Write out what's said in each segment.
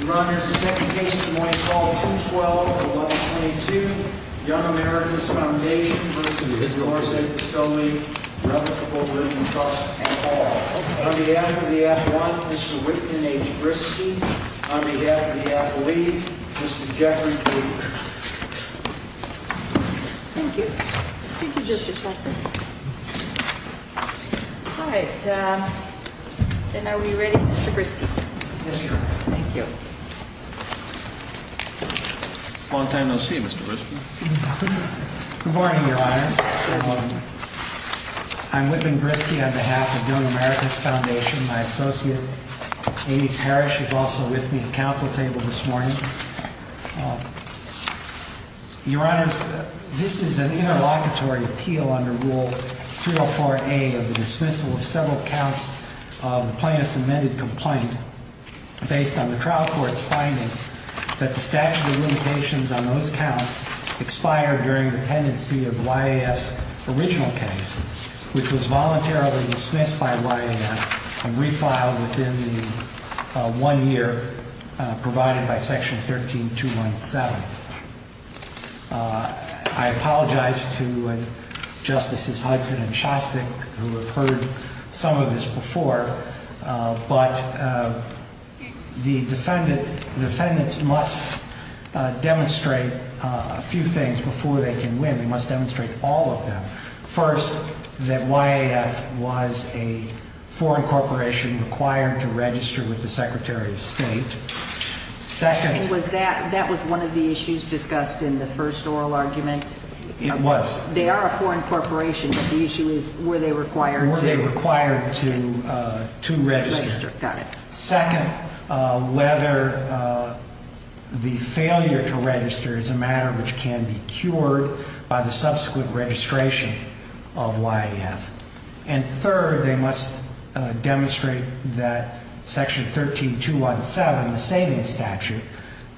Your Honor, it's the second case of the morning, call 212 of 1122, Young America's Foundation v. Doris A. Pistole, Revocable Living Trust, and all. On behalf of the athlete, Mr. Wickton H. Briskey. On behalf of the athlete, Mr. Jeffrey Kramer. Thank you. Thank you, Justice Foster. All right, then are we ready, Mr. Briskey? Thank you. Long time no see, Mr. Briskey. Good morning, Your Honors. I'm Whitman Briskey on behalf of Young America's Foundation. My associate, Amy Parrish, is also with me at the council table this morning. Your Honors, this is an interlocutory appeal under Rule 304A of the dismissal of several counts of the plaintiff's amended complaint based on the trial court's finding that the statute of limitations on those counts expired during the pendency of YAF's original case, which was voluntarily dismissed by YAF and refiled within the one year provided by Section 13217. I apologize to Justices Hudson and Shostak who have heard some of this before, but the defendants must demonstrate a few things before they can win. They must demonstrate all of them. First, that YAF was a foreign corporation required to register with the Secretary of State. That was one of the issues discussed in the first oral argument? It was. They are a foreign corporation, but the issue is were they required to? Were they required to register. Second, whether the failure to register is a matter which can be cured by the subsequent registration of YAF. And third, they must demonstrate that Section 13217, the savings statute,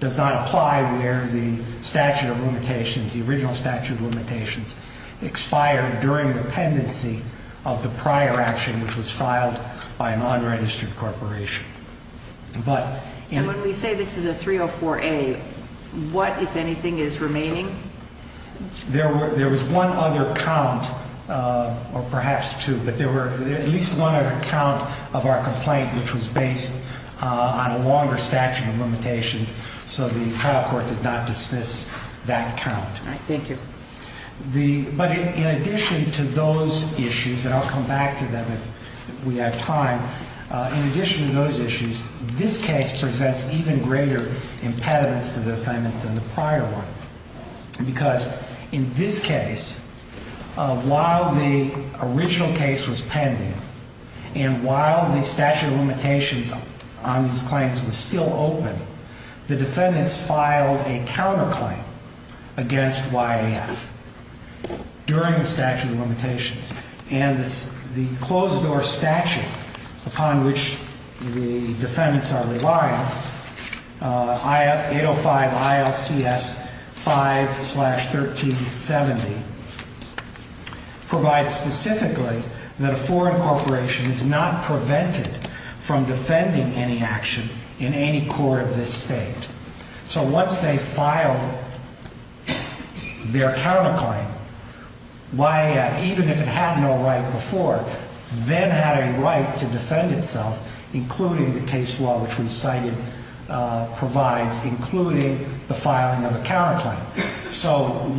does not apply where the statute of limitations, the original statute of limitations, expired during the pendency of the prior action which was filed by an unregistered corporation. And when we say this is a 304A, what, if anything, is remaining? There was one other count, or perhaps two, but there was at least one other count of our complaint which was based on a longer statute of limitations, so the trial court did not dismiss that count. Thank you. But in addition to those issues, and I'll come back to them if we have time, in addition to those issues, this case presents even greater impediments to the defendants than the prior one. During the statute of limitations and the closed-door statute upon which the defendants are reliant, 805 ILCS 5-1370 provides specifically that a foreign corporation is not prevented from defending any action in any court of this state. So once they filed their counterclaim, YAF, even if it had no right before, then had a right to defend itself, including the case law which we cited provides, including the filing of a counterclaim.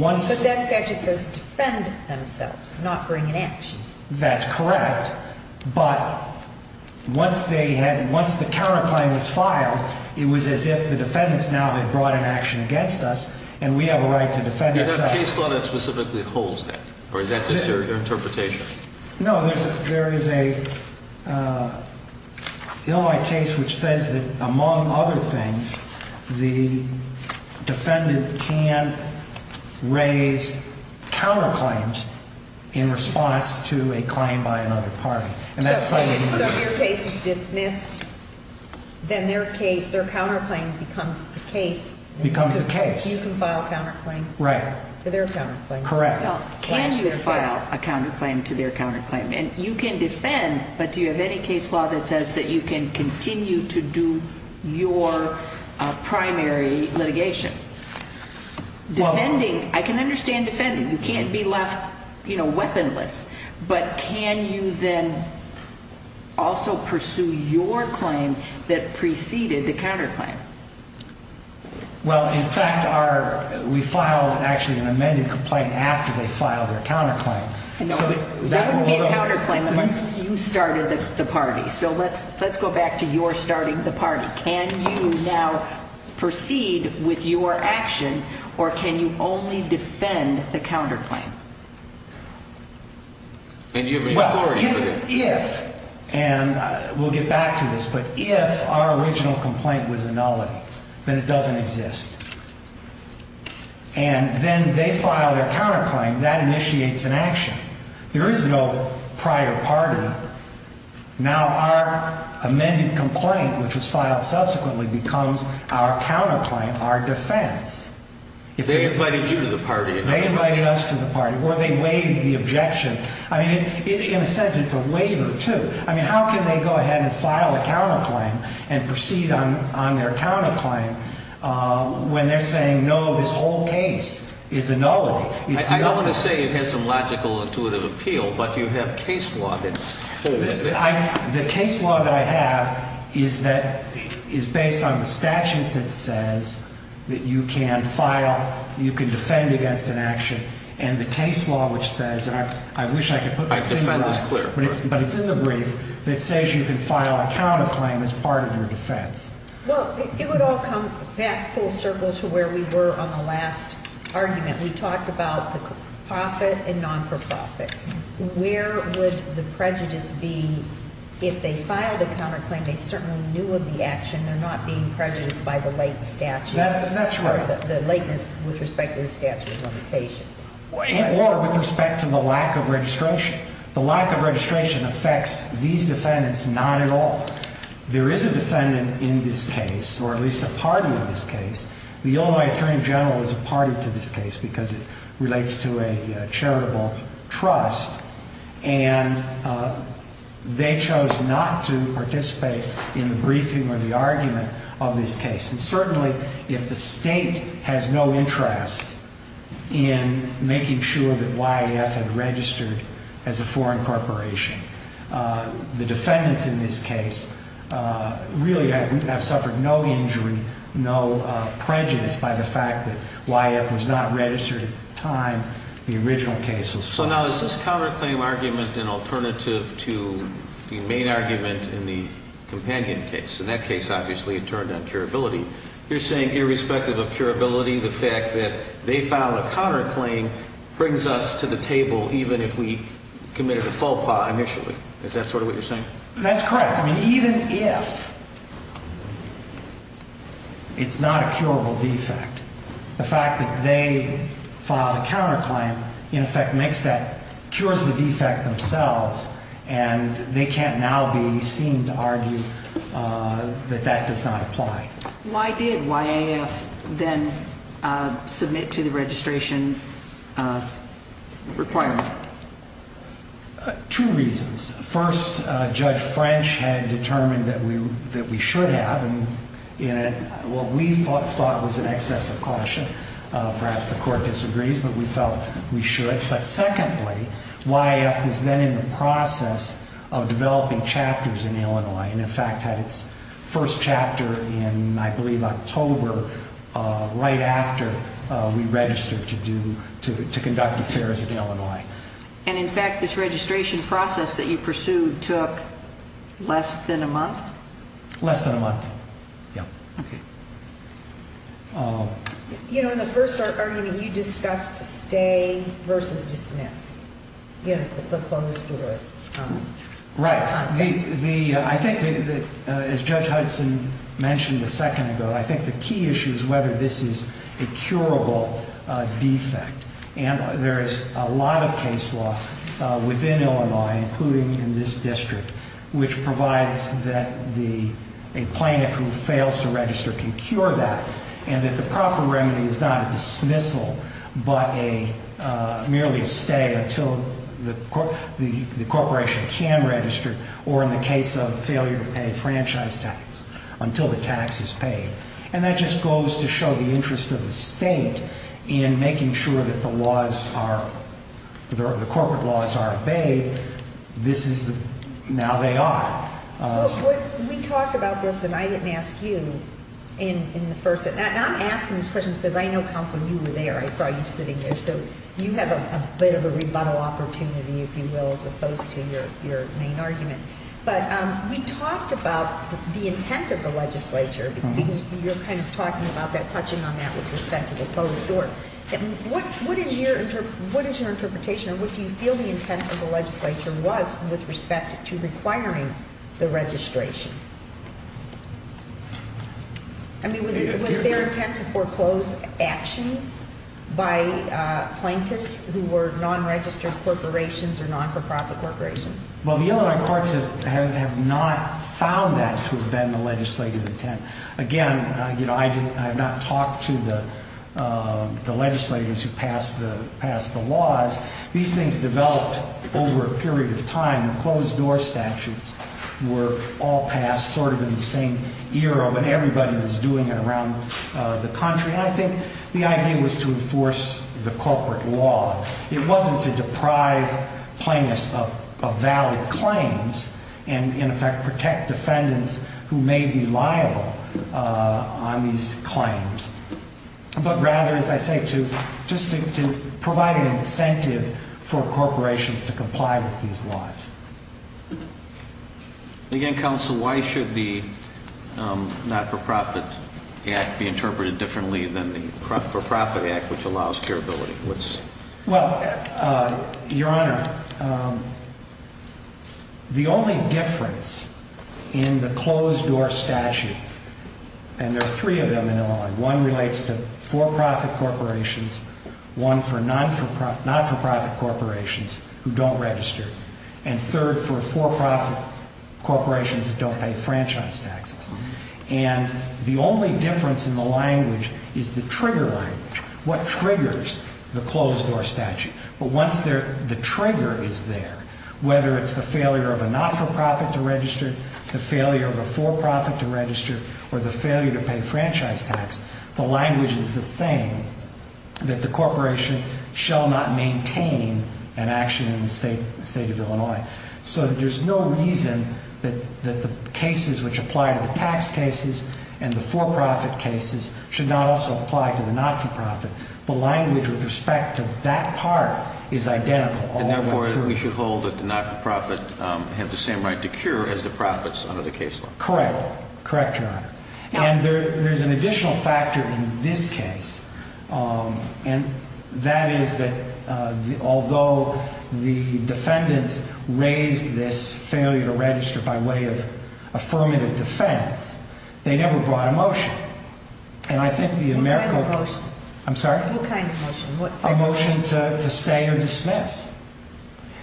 But that statute says defend themselves, not bring an action. That's correct, but once the counterclaim was filed, it was as if the defendants now had brought an action against us, and we have a right to defend ourselves. Is there a case law that specifically holds that, or is that just your interpretation? No, there is a case which says that, among other things, the defendant can raise counterclaims in response to a claim by another party. So if your case is dismissed, then their counterclaim becomes the case? Becomes the case. So you can file a counterclaim? Right. For their counterclaim? Correct. Can you file a counterclaim to their counterclaim? And you can defend, but do you have any case law that says that you can continue to do your primary litigation? Defending, I can understand defending. You can't be left, you know, weaponless. But can you then also pursue your claim that preceded the counterclaim? Well, in fact, we filed actually an amended complaint after they filed their counterclaim. That would be a counterclaim unless you started the party. So let's go back to your starting the party. Can you now proceed with your action, or can you only defend the counterclaim? And do you have any authority for that? If, and we'll get back to this, but if our original complaint was a nullity, then it doesn't exist. And then they file their counterclaim. That initiates an action. There is no prior party. Now, our amended complaint, which was filed subsequently, becomes our counterclaim, our defense. They invited you to the party. They invited us to the party, or they waived the objection. I mean, in a sense, it's a waiver, too. I mean, how can they go ahead and file a counterclaim and proceed on their counterclaim when they're saying, no, this whole case is a nullity? I don't want to say it has some logical, intuitive appeal, but you have case law that's holding it. The case law that I have is based on the statute that says that you can file, you can defend against an action. And the case law which says, and I wish I could put my finger on it, but it's in the brief that says you can file a counterclaim as part of your defense. Well, it would all come back full circle to where we were on the last argument. We talked about the profit and non-for-profit. Where would the prejudice be if they filed a counterclaim? They certainly knew of the action. They're not being prejudiced by the late statute. That's right. Or the lateness with respect to the statute of limitations. Or with respect to the lack of registration. The lack of registration affects these defendants not at all. There is a defendant in this case, or at least a party in this case. The Illinois Attorney General is a party to this case because it relates to a charitable trust. And they chose not to participate in the briefing or the argument of this case. And certainly if the state has no interest in making sure that YAF had registered as a foreign corporation, the defendants in this case really have suffered no injury, no prejudice by the fact that YAF was not registered at the time the original case was filed. So now is this counterclaim argument an alternative to the main argument in the companion case? In that case, obviously, it turned on curability. You're saying irrespective of curability, the fact that they filed a counterclaim brings us to the table even if we committed a faux pas initially. Is that sort of what you're saying? That's correct. I mean, even if it's not a curable defect, the fact that they filed a counterclaim in effect makes that, cures the defect themselves, and they can't now be seen to argue that that does not apply. Why did YAF then submit to the registration requirement? Two reasons. First, Judge French had determined that we should have, and what we thought was an excess of caution. Perhaps the court disagrees, but we felt we should. But secondly, YAF was then in the process of developing chapters in Illinois and, in fact, had its first chapter in, I believe, October, right after we registered to conduct affairs in Illinois. And, in fact, this registration process that you pursued took less than a month? Less than a month, yeah. Okay. You know, in the first argument, you discussed stay versus dismiss, you know, the closed order concept. Right. I think, as Judge Hudson mentioned a second ago, I think the key issue is whether this is a curable defect. And there is a lot of case law within Illinois, including in this district, which provides that a plaintiff who fails to register can cure that, and that the proper remedy is not a dismissal, but merely a stay until the corporation can register, or in the case of failure to pay franchise tax, until the tax is paid. And that just goes to show the interest of the state in making sure that the laws are, the corporate laws are obeyed. This is the, now they are. We talked about this, and I didn't ask you in the first, and I'm asking these questions because I know, Counselor, you were there. I saw you sitting there, so you have a bit of a rebuttal opportunity, if you will, as opposed to your main argument. But we talked about the intent of the legislature, because you're kind of talking about that, touching on that with respect to the closed door. What is your interpretation, or what do you feel the intent of the legislature was with respect to requiring the registration? I mean, was there intent to foreclose actions by plaintiffs who were non-registered corporations or non-for-profit corporations? Well, the Illinois courts have not found that to have been the legislative intent. Again, you know, I have not talked to the legislators who passed the laws. These things developed over a period of time. The closed door statutes were all passed sort of in the same era, but everybody was doing it around the country. And I think the idea was to enforce the corporate law. It wasn't to deprive plaintiffs of valid claims and, in effect, protect defendants who may be liable on these claims. But rather, as I say, to provide an incentive for corporations to comply with these laws. Again, Counsel, why should the Not-for-Profit Act be interpreted differently than the For-Profit Act, which allows curability? Well, Your Honor, the only difference in the closed door statute, and there are three of them in Illinois, one relates to for-profit corporations, one for not-for-profit corporations who don't register, and third for for-profit corporations that don't pay franchise taxes. And the only difference in the language is the trigger language. What triggers the closed door statute? But once the trigger is there, whether it's the failure of a not-for-profit to register, the failure of a for-profit to register, or the failure to pay franchise tax, the language is the same, that the corporation shall not maintain an action in the state of Illinois. So there's no reason that the cases which apply to the tax cases and the for-profit cases should not also apply to the not-for-profit. The language with respect to that part is identical all the way through. And therefore, we should hold that the not-for-profit have the same right to cure as the profits under the case law. Correct. Correct, Your Honor. And there's an additional factor in this case. And that is that although the defendants raised this failure to register by way of affirmative defense, they never brought a motion. And I think the American... What kind of motion? I'm sorry? What kind of motion? A motion to stay or dismiss.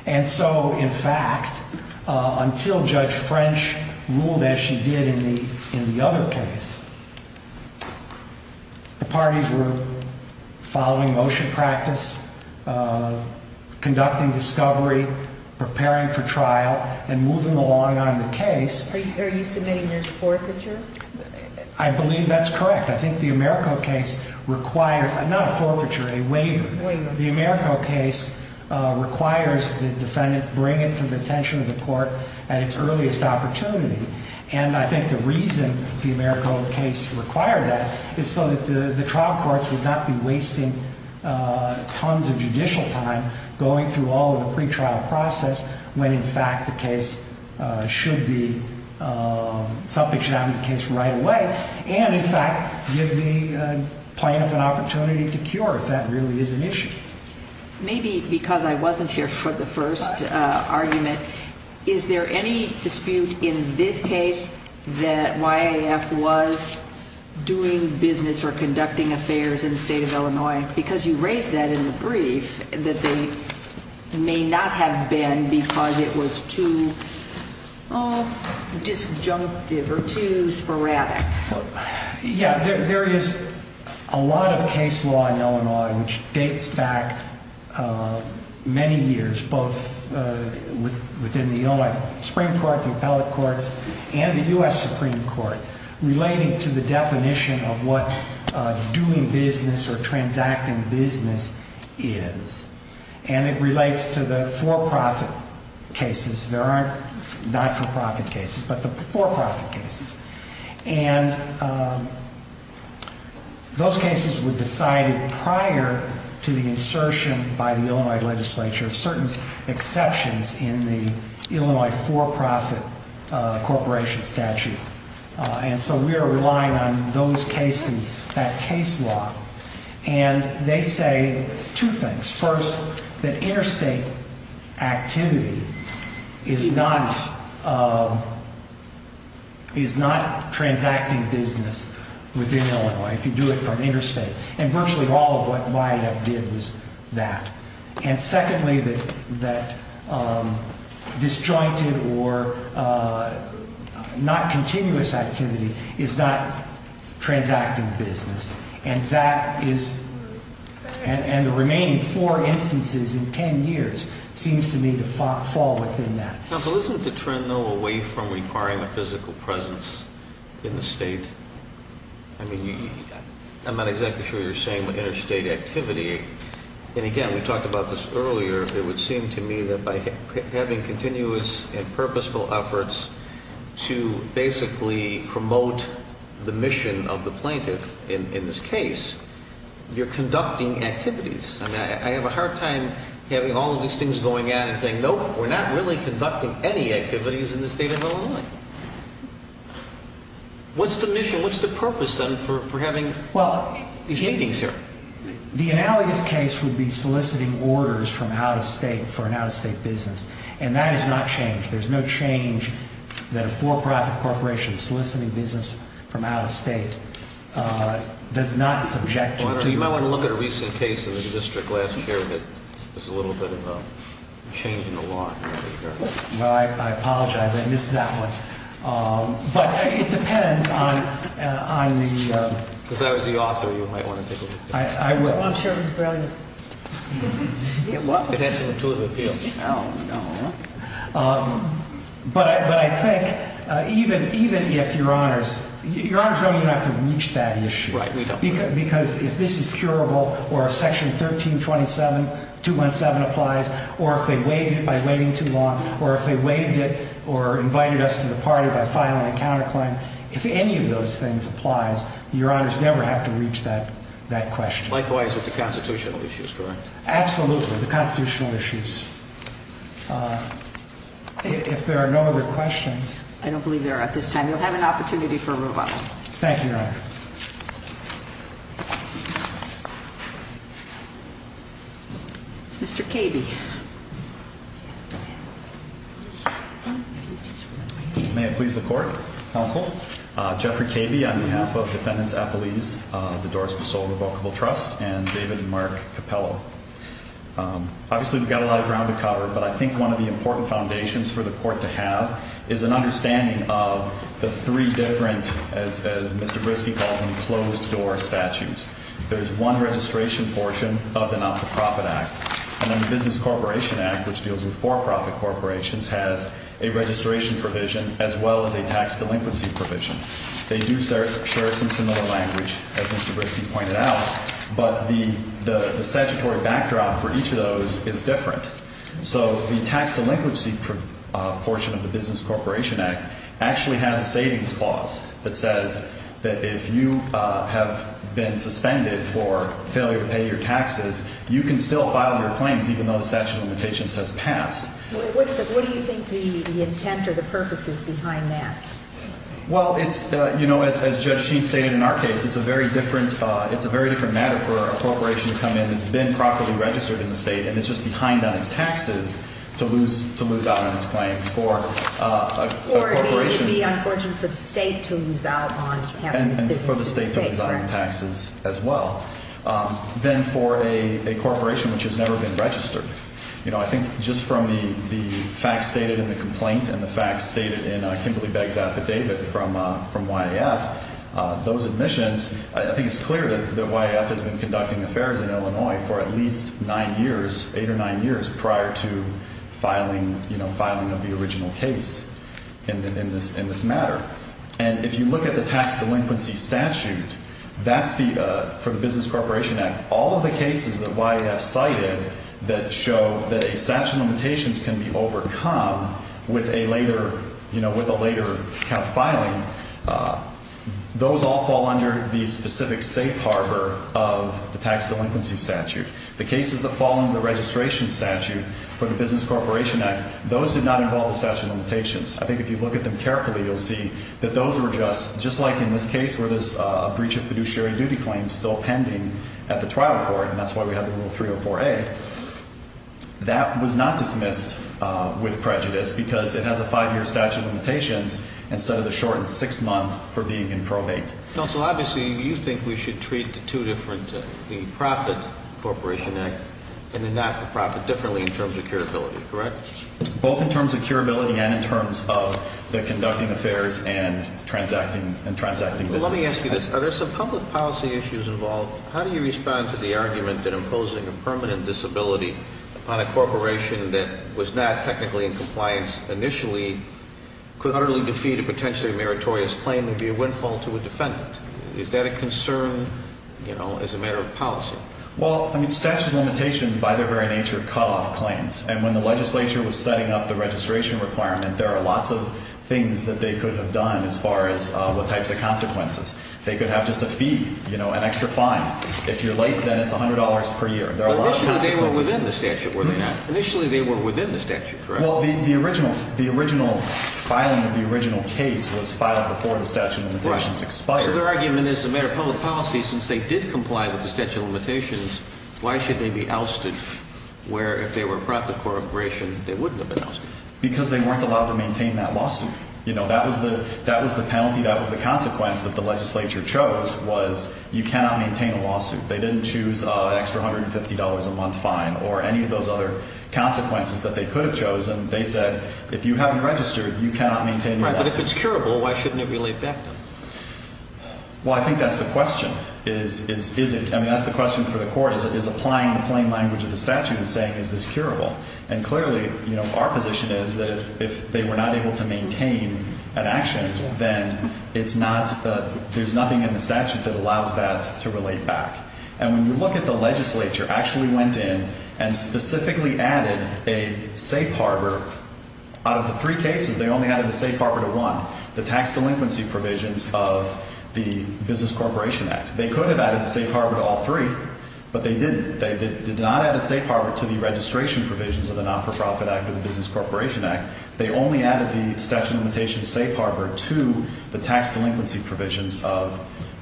And so, in fact, until Judge French ruled as she did in the other case, the parties were following motion practice, conducting discovery, preparing for trial, and moving along on the case. Are you submitting there's forfeiture? I believe that's correct. I think the Americo case requires, not a forfeiture, a waiver. The Americo case requires the defendant to bring it to the attention of the court at its earliest opportunity. And I think the reason the Americo case required that is so that the trial courts would not be wasting tons of judicial time going through all of the pretrial process when, in fact, the case should be, something should happen to the case right away, and, in fact, give the plaintiff an opportunity to cure if that really is an issue. Maybe because I wasn't here for the first argument, is there any dispute in this case that YAF was doing business or conducting affairs in the state of Illinois? Because you raised that in the brief, that they may not have been because it was too disjunctive or too sporadic. Yeah, there is a lot of case law in Illinois which dates back many years, both within the Illinois Supreme Court, the appellate courts, and the U.S. Supreme Court, relating to the definition of what doing business or transacting business is. And it relates to the for-profit cases. There aren't not-for-profit cases, but the for-profit cases. And those cases were decided prior to the insertion by the Illinois legislature, with certain exceptions in the Illinois for-profit corporation statute. And so we are relying on those cases, that case law. And they say two things. First, that interstate activity is not transacting business within Illinois, if you do it from interstate. And virtually all of what YAF did was that. And secondly, that disjointed or not continuous activity is not transacting business. And that is, and the remaining four instances in ten years seems to me to fall within that. Counsel, isn't the trend, though, away from requiring a physical presence in the state? I mean, I'm not exactly sure you're saying interstate activity. And again, we talked about this earlier. It would seem to me that by having continuous and purposeful efforts to basically promote the mission of the plaintiff in this case, you're conducting activities. I mean, I have a hard time having all of these things going on and saying, nope, we're not really conducting any activities in the state of Illinois. What's the mission, what's the purpose, then, for having these meetings here? Well, the analogous case would be soliciting orders from out-of-state for an out-of-state business. And that has not changed. There's no change that a for-profit corporation soliciting business from out-of-state does not subject you to. You might want to look at a recent case in the district last year that was a little bit of a change in the law. Well, I apologize. I missed that one. But it depends on the... Because I was the author, you might want to take a look at that. I'm sure it was brilliant. It had some intuitive appeal. Oh, no. But I think even if Your Honors... Your Honors don't even have to reach that issue. Right, we don't. Because if this is curable or if Section 1327, 217 applies, or if they waived it by waiting too long, or if they waived it or invited us to the party by filing a counterclaim, if any of those things applies, Your Honors never have to reach that question. Likewise with the constitutional issues, correct? Absolutely, the constitutional issues. If there are no other questions... I don't believe there are at this time. You'll have an opportunity for a rebuttal. Thank you, Your Honor. Thank you. Mr. Cabe. May it please the Court, Counsel, Jeffrey Cabe on behalf of Defendants Appellees, the Doris Pasol Revocable Trust, and David and Mark Capello. Obviously, we've got a lot of ground to cover, but I think one of the important foundations for the Court to have is an understanding of the three different, as Mr. Briske called them, closed-door statutes. There's one registration portion of the Not-for-Profit Act, and then the Business Corporation Act, which deals with for-profit corporations, has a registration provision as well as a tax delinquency provision. They do share some similar language, as Mr. Briske pointed out, but the statutory backdrop for each of those is different. So the tax delinquency portion of the Business Corporation Act actually has a savings clause that says that if you have been suspended for failure to pay your taxes, you can still file your claims even though the statute of limitations has passed. What do you think the intent or the purpose is behind that? Well, it's, you know, as Judge Sheen stated in our case, it's a very different matter for a corporation to come in. It's been properly registered in the state, and it's just behind on its taxes to lose out on its claims. Or it would be unfortunate for the state to lose out on having its business in the state. And for the state to lose out on taxes as well. Then for a corporation which has never been registered, you know, I think just from the facts stated in the complaint and the facts stated in Kimberly Begg's affidavit from YAF, those admissions, I think it's clear that YAF has been conducting affairs in Illinois for at least nine years, eight or nine years prior to filing, you know, filing of the original case in this matter. And if you look at the tax delinquency statute, that's the, for the Business Corporation Act, all of the cases that YAF cited that show that a statute of limitations can be overcome with a later, later count filing, those all fall under the specific safe harbor of the tax delinquency statute. The cases that fall under the registration statute for the Business Corporation Act, those did not involve a statute of limitations. I think if you look at them carefully, you'll see that those were just, just like in this case where there's a breach of fiduciary duty claim still pending at the trial court, and that's why we have the rule 304A. That was not dismissed with prejudice because it has a five-year statute of limitations instead of the shortened six-month for being in probate. Counsel, obviously you think we should treat the two different, the profit Corporation Act and the not-for-profit differently in terms of curability, correct? Both in terms of curability and in terms of the conducting affairs and transacting, and transacting business. Let me ask you this. Are there some public policy issues involved? How do you respond to the argument that imposing a permanent disability on a corporation that was not technically in compliance initially could utterly defeat a potentially meritorious claim and be a windfall to a defendant? Is that a concern, you know, as a matter of policy? Well, I mean statute of limitations by their very nature cut off claims, and when the legislature was setting up the registration requirement, there are lots of things that they could have done as far as what types of consequences. They could have just a fee, you know, an extra fine. If you're late, then it's $100 per year. Initially they were within the statute, were they not? Initially they were within the statute, correct? Well, the original filing of the original case was filed before the statute of limitations expired. So their argument is as a matter of public policy, since they did comply with the statute of limitations, why should they be ousted where if they were a profit corporation, they wouldn't have been ousted? Because they weren't allowed to maintain that lawsuit. You know, that was the penalty, that was the consequence that the legislature chose was you cannot maintain a lawsuit. They didn't choose an extra $150 a month fine or any of those other consequences that they could have chosen. They said if you haven't registered, you cannot maintain the lawsuit. Right, but if it's curable, why shouldn't it be laid back then? Well, I think that's the question. I mean that's the question for the court is applying the plain language of the statute and saying is this curable? And clearly, you know, our position is that if they were not able to maintain an action, then it's not, there's nothing in the statute that allows that to relate back. And when you look at the legislature actually went in and specifically added a safe harbor. Out of the three cases, they only added a safe harbor to one, the tax delinquency provisions of the Business Corporation Act. They could have added a safe harbor to all three, but they didn't. They did not add a safe harbor to the registration provisions of the Non-For-Profit Act or the Business Corporation Act. They only added the statute of limitations safe harbor to the tax delinquency provisions of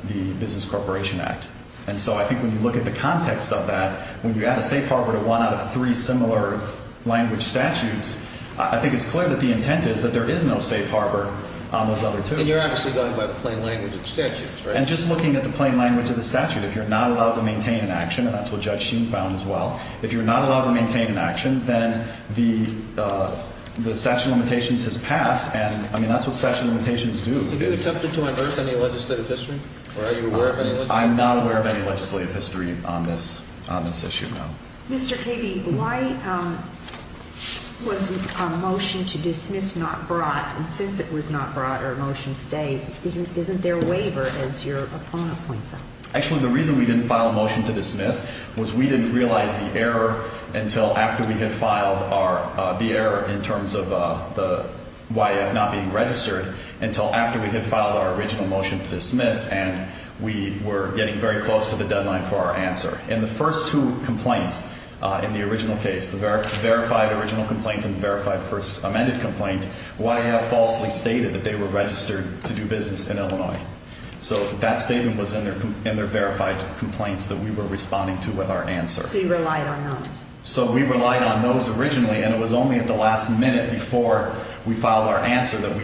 the Business Corporation Act. And so I think when you look at the context of that, when you add a safe harbor to one out of three similar language statutes, I think it's clear that the intent is that there is no safe harbor on those other two. And you're obviously going by the plain language of the statute, right? And just looking at the plain language of the statute, if you're not allowed to maintain an action, and that's what Judge Sheen found as well, if you're not allowed to maintain an action, then the statute of limitations has passed. And, I mean, that's what statute of limitations do. Are you accepted to unearth any legislative history? Or are you aware of any legislative history? I'm not aware of any legislative history on this issue, no. Mr. Keeby, why was a motion to dismiss not brought? And since it was not brought or a motion stayed, isn't there a waiver, as your opponent points out? Actually, the reason we didn't file a motion to dismiss was we didn't realize the error until after we had filed our ‑‑ the error in terms of the YF not being registered until after we had filed our original motion to dismiss, and we were getting very close to the deadline for our answer. In the first two complaints in the original case, the verified original complaint and verified first amended complaint, YF falsely stated that they were registered to do business in Illinois. So that statement was in their verified complaints that we were responding to with our answer. So you relied on those. So we relied on those originally, and it was only at the last minute before we filed our answer that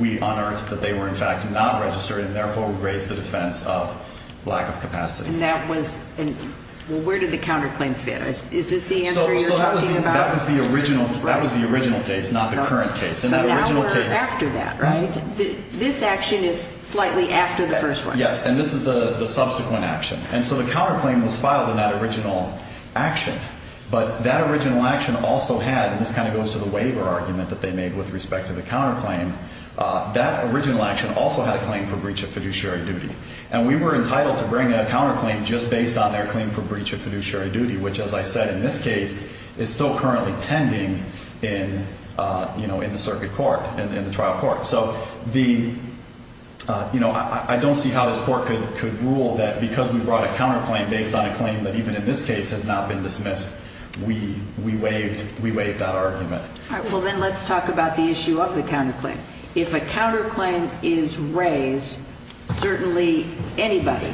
we unearthed that they were, in fact, not registered, and, therefore, we raised the defense of lack of capacity. And that was ‑‑ well, where did the counterclaim fit? Is this the answer you're talking about? That was the original case, not the current case. So now we're after that, right? This action is slightly after the first one. Yes, and this is the subsequent action. And so the counterclaim was filed in that original action, but that original action also had, and this kind of goes to the waiver argument that they made with respect to the counterclaim, that original action also had a claim for breach of fiduciary duty, and we were entitled to bring a counterclaim just based on their claim for breach of fiduciary duty, which, as I said in this case, is still currently pending in, you know, in the circuit court, in the trial court. So the, you know, I don't see how this court could rule that because we brought a counterclaim based on a claim that even in this case has not been dismissed, we waived that argument. All right. Well, then let's talk about the issue of the counterclaim. If a counterclaim is raised, certainly anybody,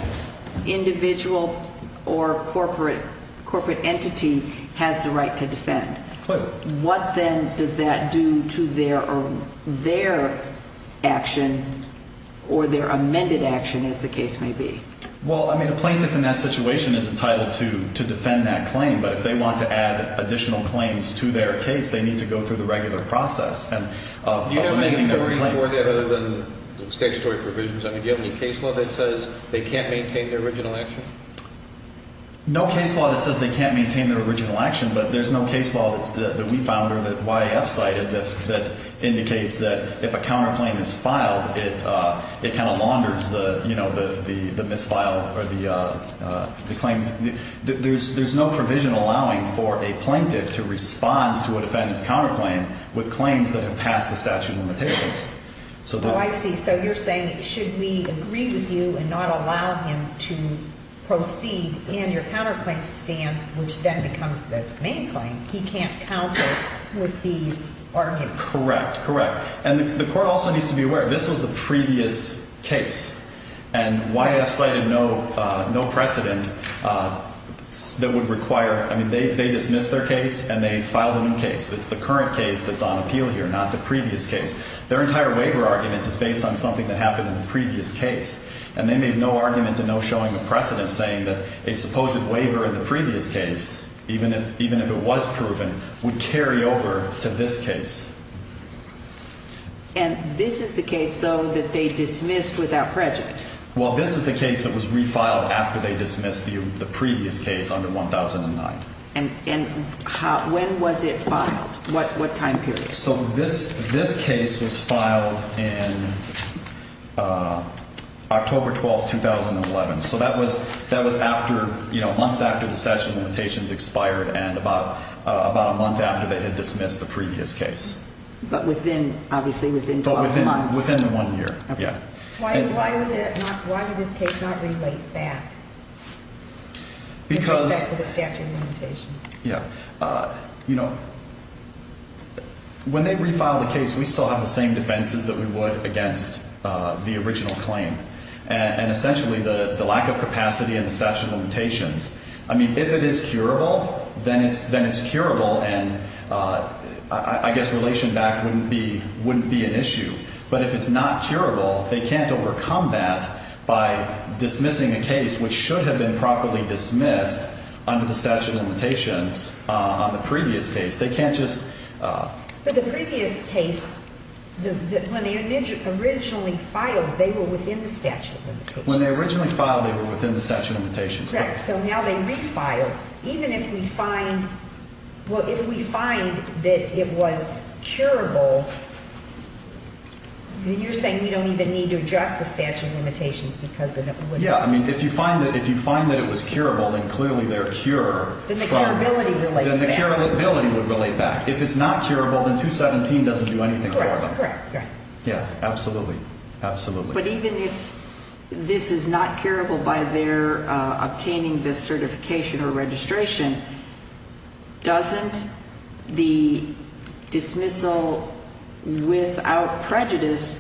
individual or corporate entity, has the right to defend. What then does that do to their action or their amended action, as the case may be? Well, I mean, a plaintiff in that situation is entitled to defend that claim, but if they want to add additional claims to their case, they need to go through the regular process. Do you have any authority for that other than statutory provisions? I mean, do you have any case law that says they can't maintain their original action? No case law that says they can't maintain their original action, but there's no case law that we found or that YAF cited that indicates that if a counterclaim is filed, it kind of launders the, you know, the misfiled or the claims. There's no provision allowing for a plaintiff to respond to a defendant's counterclaim with claims that have passed the statute of limitations. Oh, I see. So you're saying should we agree with you and not allow him to proceed in your counterclaim stance, which then becomes the main claim, he can't counter with these arguments. Correct. Correct. And the court also needs to be aware, this was the previous case, and YAF cited no precedent that would require, I mean, they dismissed their case and they filed a new case. It's the current case that's on appeal here, not the previous case. Their entire waiver argument is based on something that happened in the previous case, and they made no argument in no showing the precedent saying that a supposed waiver in the previous case, even if it was proven, would carry over to this case. And this is the case, though, that they dismissed without prejudice? Well, this is the case that was refiled after they dismissed the previous case under 1009. And when was it filed? What time period? So this case was filed in October 12, 2011. So that was after, you know, months after the statute of limitations expired and about a month after they had dismissed the previous case. But within, obviously, within 12 months. But within the one year, yeah. Why would this case not relate back in respect to the statute of limitations? Yeah. You know, when they refiled the case, we still have the same defenses that we would against the original claim. And essentially the lack of capacity in the statute of limitations. I mean, if it is curable, then it's curable, and I guess relation back wouldn't be an issue. But if it's not curable, they can't overcome that by dismissing a case, which should have been properly dismissed under the statute of limitations on the previous case. They can't just. But the previous case, when they originally filed, they were within the statute of limitations. When they originally filed, they were within the statute of limitations. Correct. So now they refiled. Even if we find, well, if we find that it was curable, then you're saying we don't even need to adjust the statute of limitations because then it wouldn't. Yeah. I mean, if you find that it was curable, then clearly they're cure. Then the curability would relate back. If it's not curable, then 217 doesn't do anything for them. Correct. Yeah, absolutely. Absolutely. But even if this is not curable by their obtaining this certification or registration, doesn't the dismissal without prejudice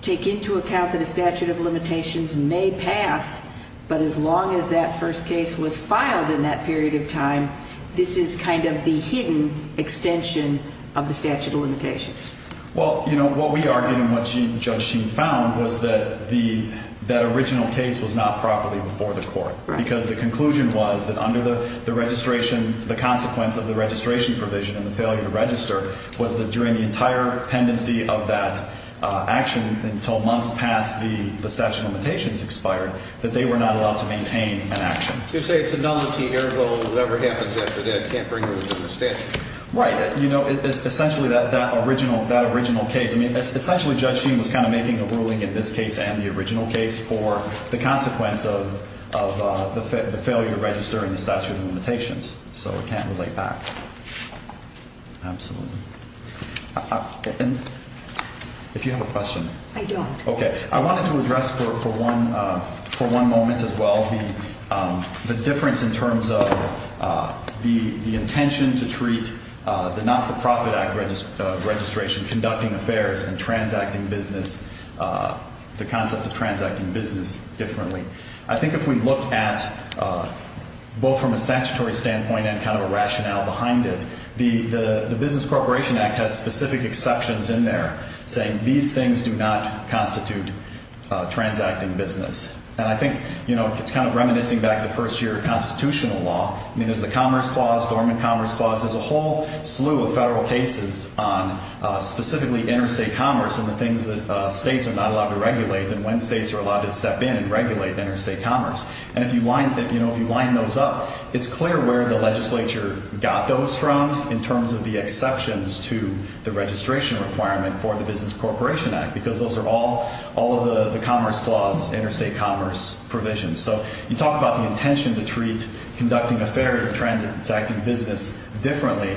take into account that a statute of limitations may pass, but as long as that first case was filed in that period of time, this is kind of the hidden extension of the statute of limitations? Well, you know, what we argued and what Judge Sheen found was that the, that original case was not properly before the court. Right. Because the conclusion was that under the registration, the consequence of the registration provision and the failure to register, was that during the entire pendency of that action until months past the statute of limitations expired, that they were not allowed to maintain an action. So you're saying it's a nullity, ergo whatever happens after that can't bring them into the statute? Right. You know, essentially that original case, I mean, essentially Judge Sheen was kind of making a ruling in this case and the original case for the consequence of the failure to register in the statute of limitations. So it can't relate back. Absolutely. If you have a question. I don't. Okay. I wanted to address for one moment as well the difference in terms of the intention to treat the Not-for-Profit Act registration, conducting affairs and transacting business, the concept of transacting business differently. I think if we look at both from a statutory standpoint and kind of a rationale behind it, the Business Corporation Act has specific exceptions in there saying these things do not constitute transacting business. And I think, you know, it's kind of reminiscing back to first-year constitutional law. I mean, there's the Commerce Clause, Dormant Commerce Clause. There's a whole slew of federal cases on specifically interstate commerce and the things that states are not allowed to regulate and when states are allowed to step in and regulate interstate commerce. And if you line those up, it's clear where the legislature got those from in terms of the exceptions to the registration requirement for the Business Corporation Act because those are all of the Commerce Clause interstate commerce provisions. So you talk about the intention to treat conducting affairs and transacting business differently.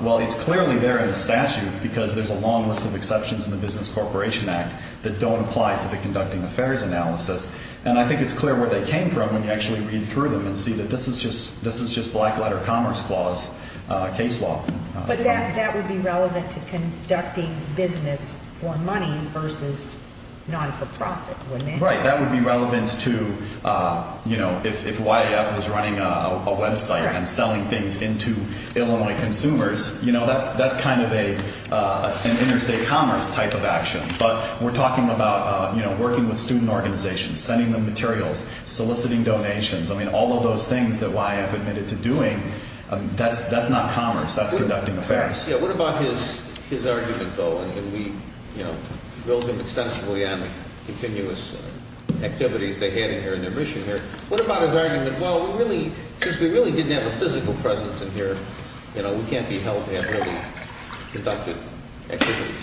Well, it's clearly there in the statute because there's a long list of exceptions in the Business Corporation Act that don't apply to the conducting affairs analysis. And I think it's clear where they came from when you actually read through them and see that this is just black-letter Commerce Clause case law. But that would be relevant to conducting business for money versus not-for-profit, wouldn't it? Right. That would be relevant to, you know, if YAF was running a website and selling things into Illinois consumers, you know, that's kind of an interstate commerce type of action. But we're talking about, you know, working with student organizations, sending them materials, soliciting donations. I mean, all of those things that YAF admitted to doing, that's not commerce. That's conducting affairs. Yeah, what about his argument, though? And we, you know, built him extensively on the continuous activities they had in here and their mission here. What about his argument, well, since we really didn't have a physical presence in here, you know, we can't be held to have really conducted activities?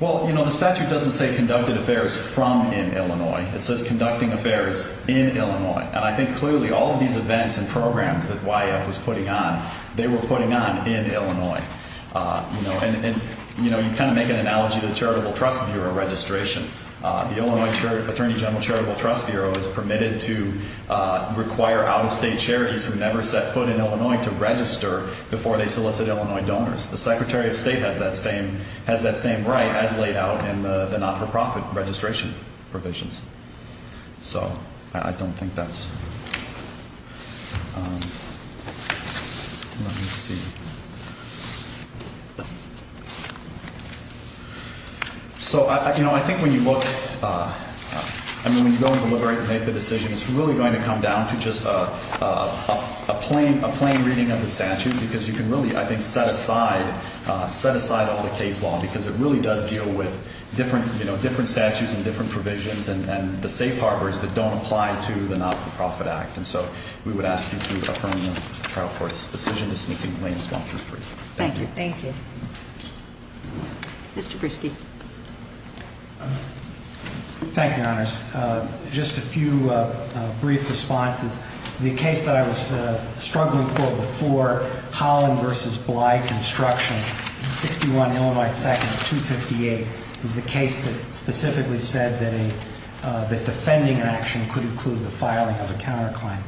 Well, you know, the statute doesn't say conducted affairs from in Illinois. It says conducting affairs in Illinois. And I think clearly all of these events and programs that YAF was putting on, they were putting on in Illinois. And, you know, you kind of make an analogy to the Charitable Trust Bureau registration. The Illinois Attorney General Charitable Trust Bureau is permitted to require out-of-state charities who never set foot in Illinois to register before they solicit Illinois donors. The Secretary of State has that same right as laid out in the not-for-profit registration provisions. So I don't think that's, let me see. So, you know, I think when you look, I mean, when you go and deliberate and make the decision, it's really going to come down to just a plain reading of the statute because you can really, I think, set aside, set aside all the case law because it really does deal with different, you know, different statutes and different provisions and the safe harbors that don't apply to the not-for-profit act. And so we would ask you to affirm the trial court's decision dismissing claims one through three. Thank you. Thank you. Mr. Breschke. Thank you, Your Honors. Just a few brief responses. The case that I was struggling for before, Holland v. Bly Construction, 61 Illinois 2nd, 258, is the case that specifically said that defending an action could include the filing of a counterclaim.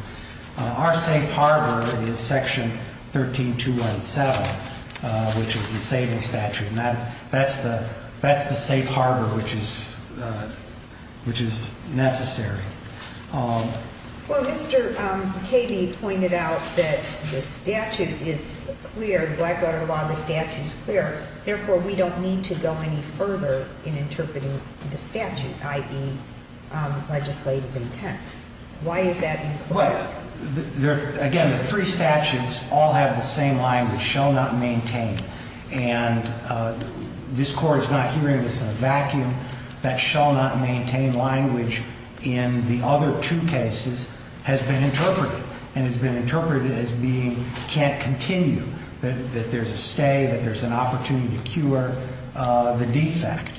Our safe harbor is Section 13217, which is the saving statute. And that's the safe harbor which is necessary. Well, Mr. Cady pointed out that the statute is clear, the Blackwater Law, the statute is clear. Therefore, we don't need to go any further in interpreting the statute, i.e., legislative intent. Why is that important? Again, the three statutes all have the same language, shall not maintain. And this Court is not hearing this in a vacuum. That shall not maintain language in the other two cases has been interpreted and has been interpreted as being can't continue, that there's a stay, that there's an opportunity to cure the defect.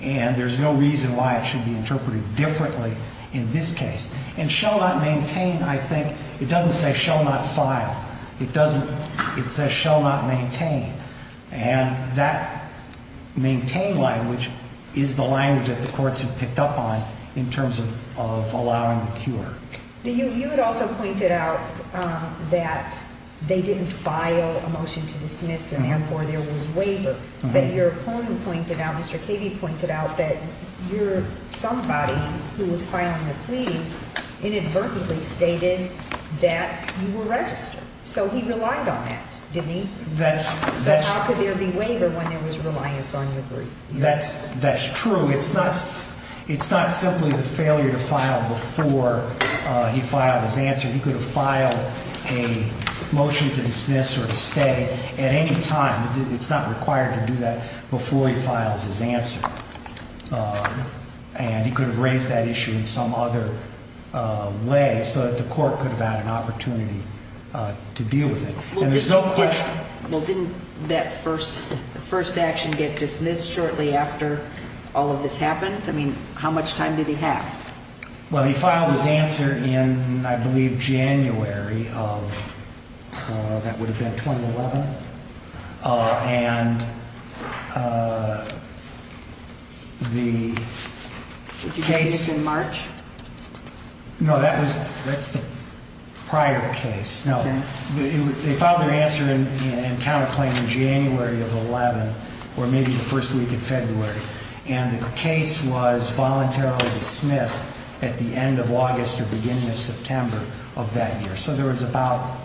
And there's no reason why it should be interpreted differently in this case. And shall not maintain, I think, it doesn't say shall not file. It says shall not maintain. And that maintain language is the language that the courts have picked up on in terms of allowing the cure. You had also pointed out that they didn't file a motion to dismiss, and therefore there was waiver. But your opponent pointed out, Mr. Cady pointed out, that your somebody who was filing a plea inadvertently stated that you were registered. So he relied on that, didn't he? But how could there be waiver when there was reliance on your brief? That's true. It's not simply the failure to file before he filed his answer. He could have filed a motion to dismiss or to stay at any time. It's not required to do that before he files his answer. And he could have raised that issue in some other way so that the court could have had an opportunity to deal with it. Well, didn't that first action get dismissed shortly after all of this happened? I mean, how much time did he have? Well, he filed his answer in, I believe, January of, that would have been 2011. And the case... Did you say it was in March? No, that's prior to the case. They filed their answer and counterclaim in January of 2011 or maybe the first week of February. And the case was voluntarily dismissed at the end of August or beginning of September of that year. So there was about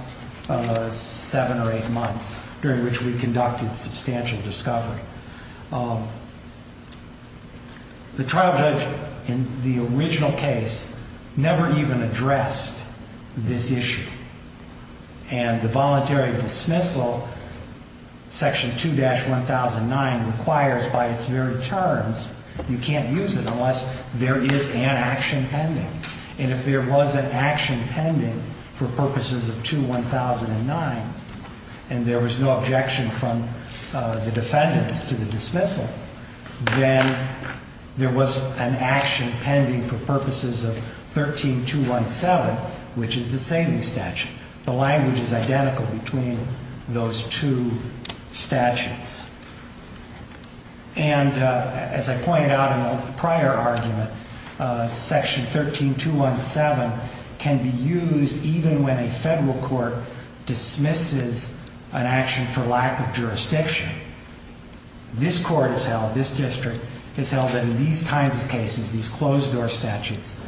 seven or eight months during which we conducted substantial discovery. The trial judge in the original case never even addressed this issue. And the voluntary dismissal, Section 2-1009, requires by its very terms you can't use it unless there is an action pending. And if there was an action pending for purposes of 2-1009 and there was no objection from the defendants to the dismissal, then there was an action pending for purposes of 13-217, which is the saving statute. The language is identical between those two statutes. And as I pointed out in the prior argument, Section 13-217 can be used even when a federal court dismisses an action for lack of jurisdiction. This court has held, this district has held that in these kinds of cases, these closed-door statutes,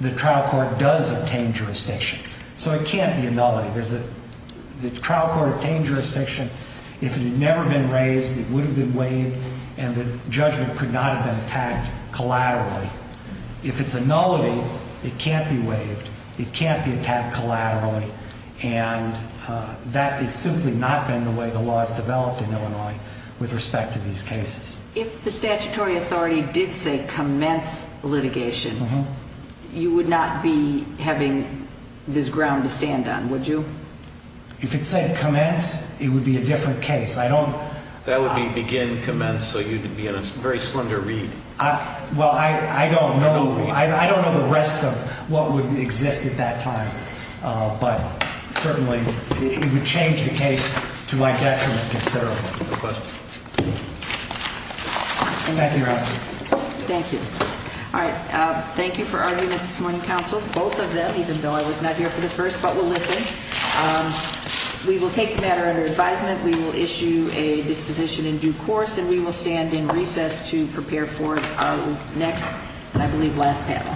the trial court does obtain jurisdiction. So it can't be a nullity. The trial court obtained jurisdiction. If it had never been raised, it would have been waived, and the judgment could not have been attacked collaterally. If it's a nullity, it can't be waived. It can't be attacked collaterally. And that has simply not been the way the law has developed in Illinois with respect to these cases. If the statutory authority did say commence litigation, you would not be having this ground to stand on, would you? If it said commence, it would be a different case. I don't... That would be begin, commence, so you'd be in a very slender read. Well, I don't know. I don't know the rest of what would exist at that time, but certainly it would change the case to my detriment considerably. No questions? Thank you, Your Honor. Thank you. All right. Thank you for arguing it this morning, counsel, both of them, even though I was not here for the first. But we'll listen. We will take the matter under advisement. We will issue a disposition in due course, and we will stand in recess to prepare for our next, I believe, last panel.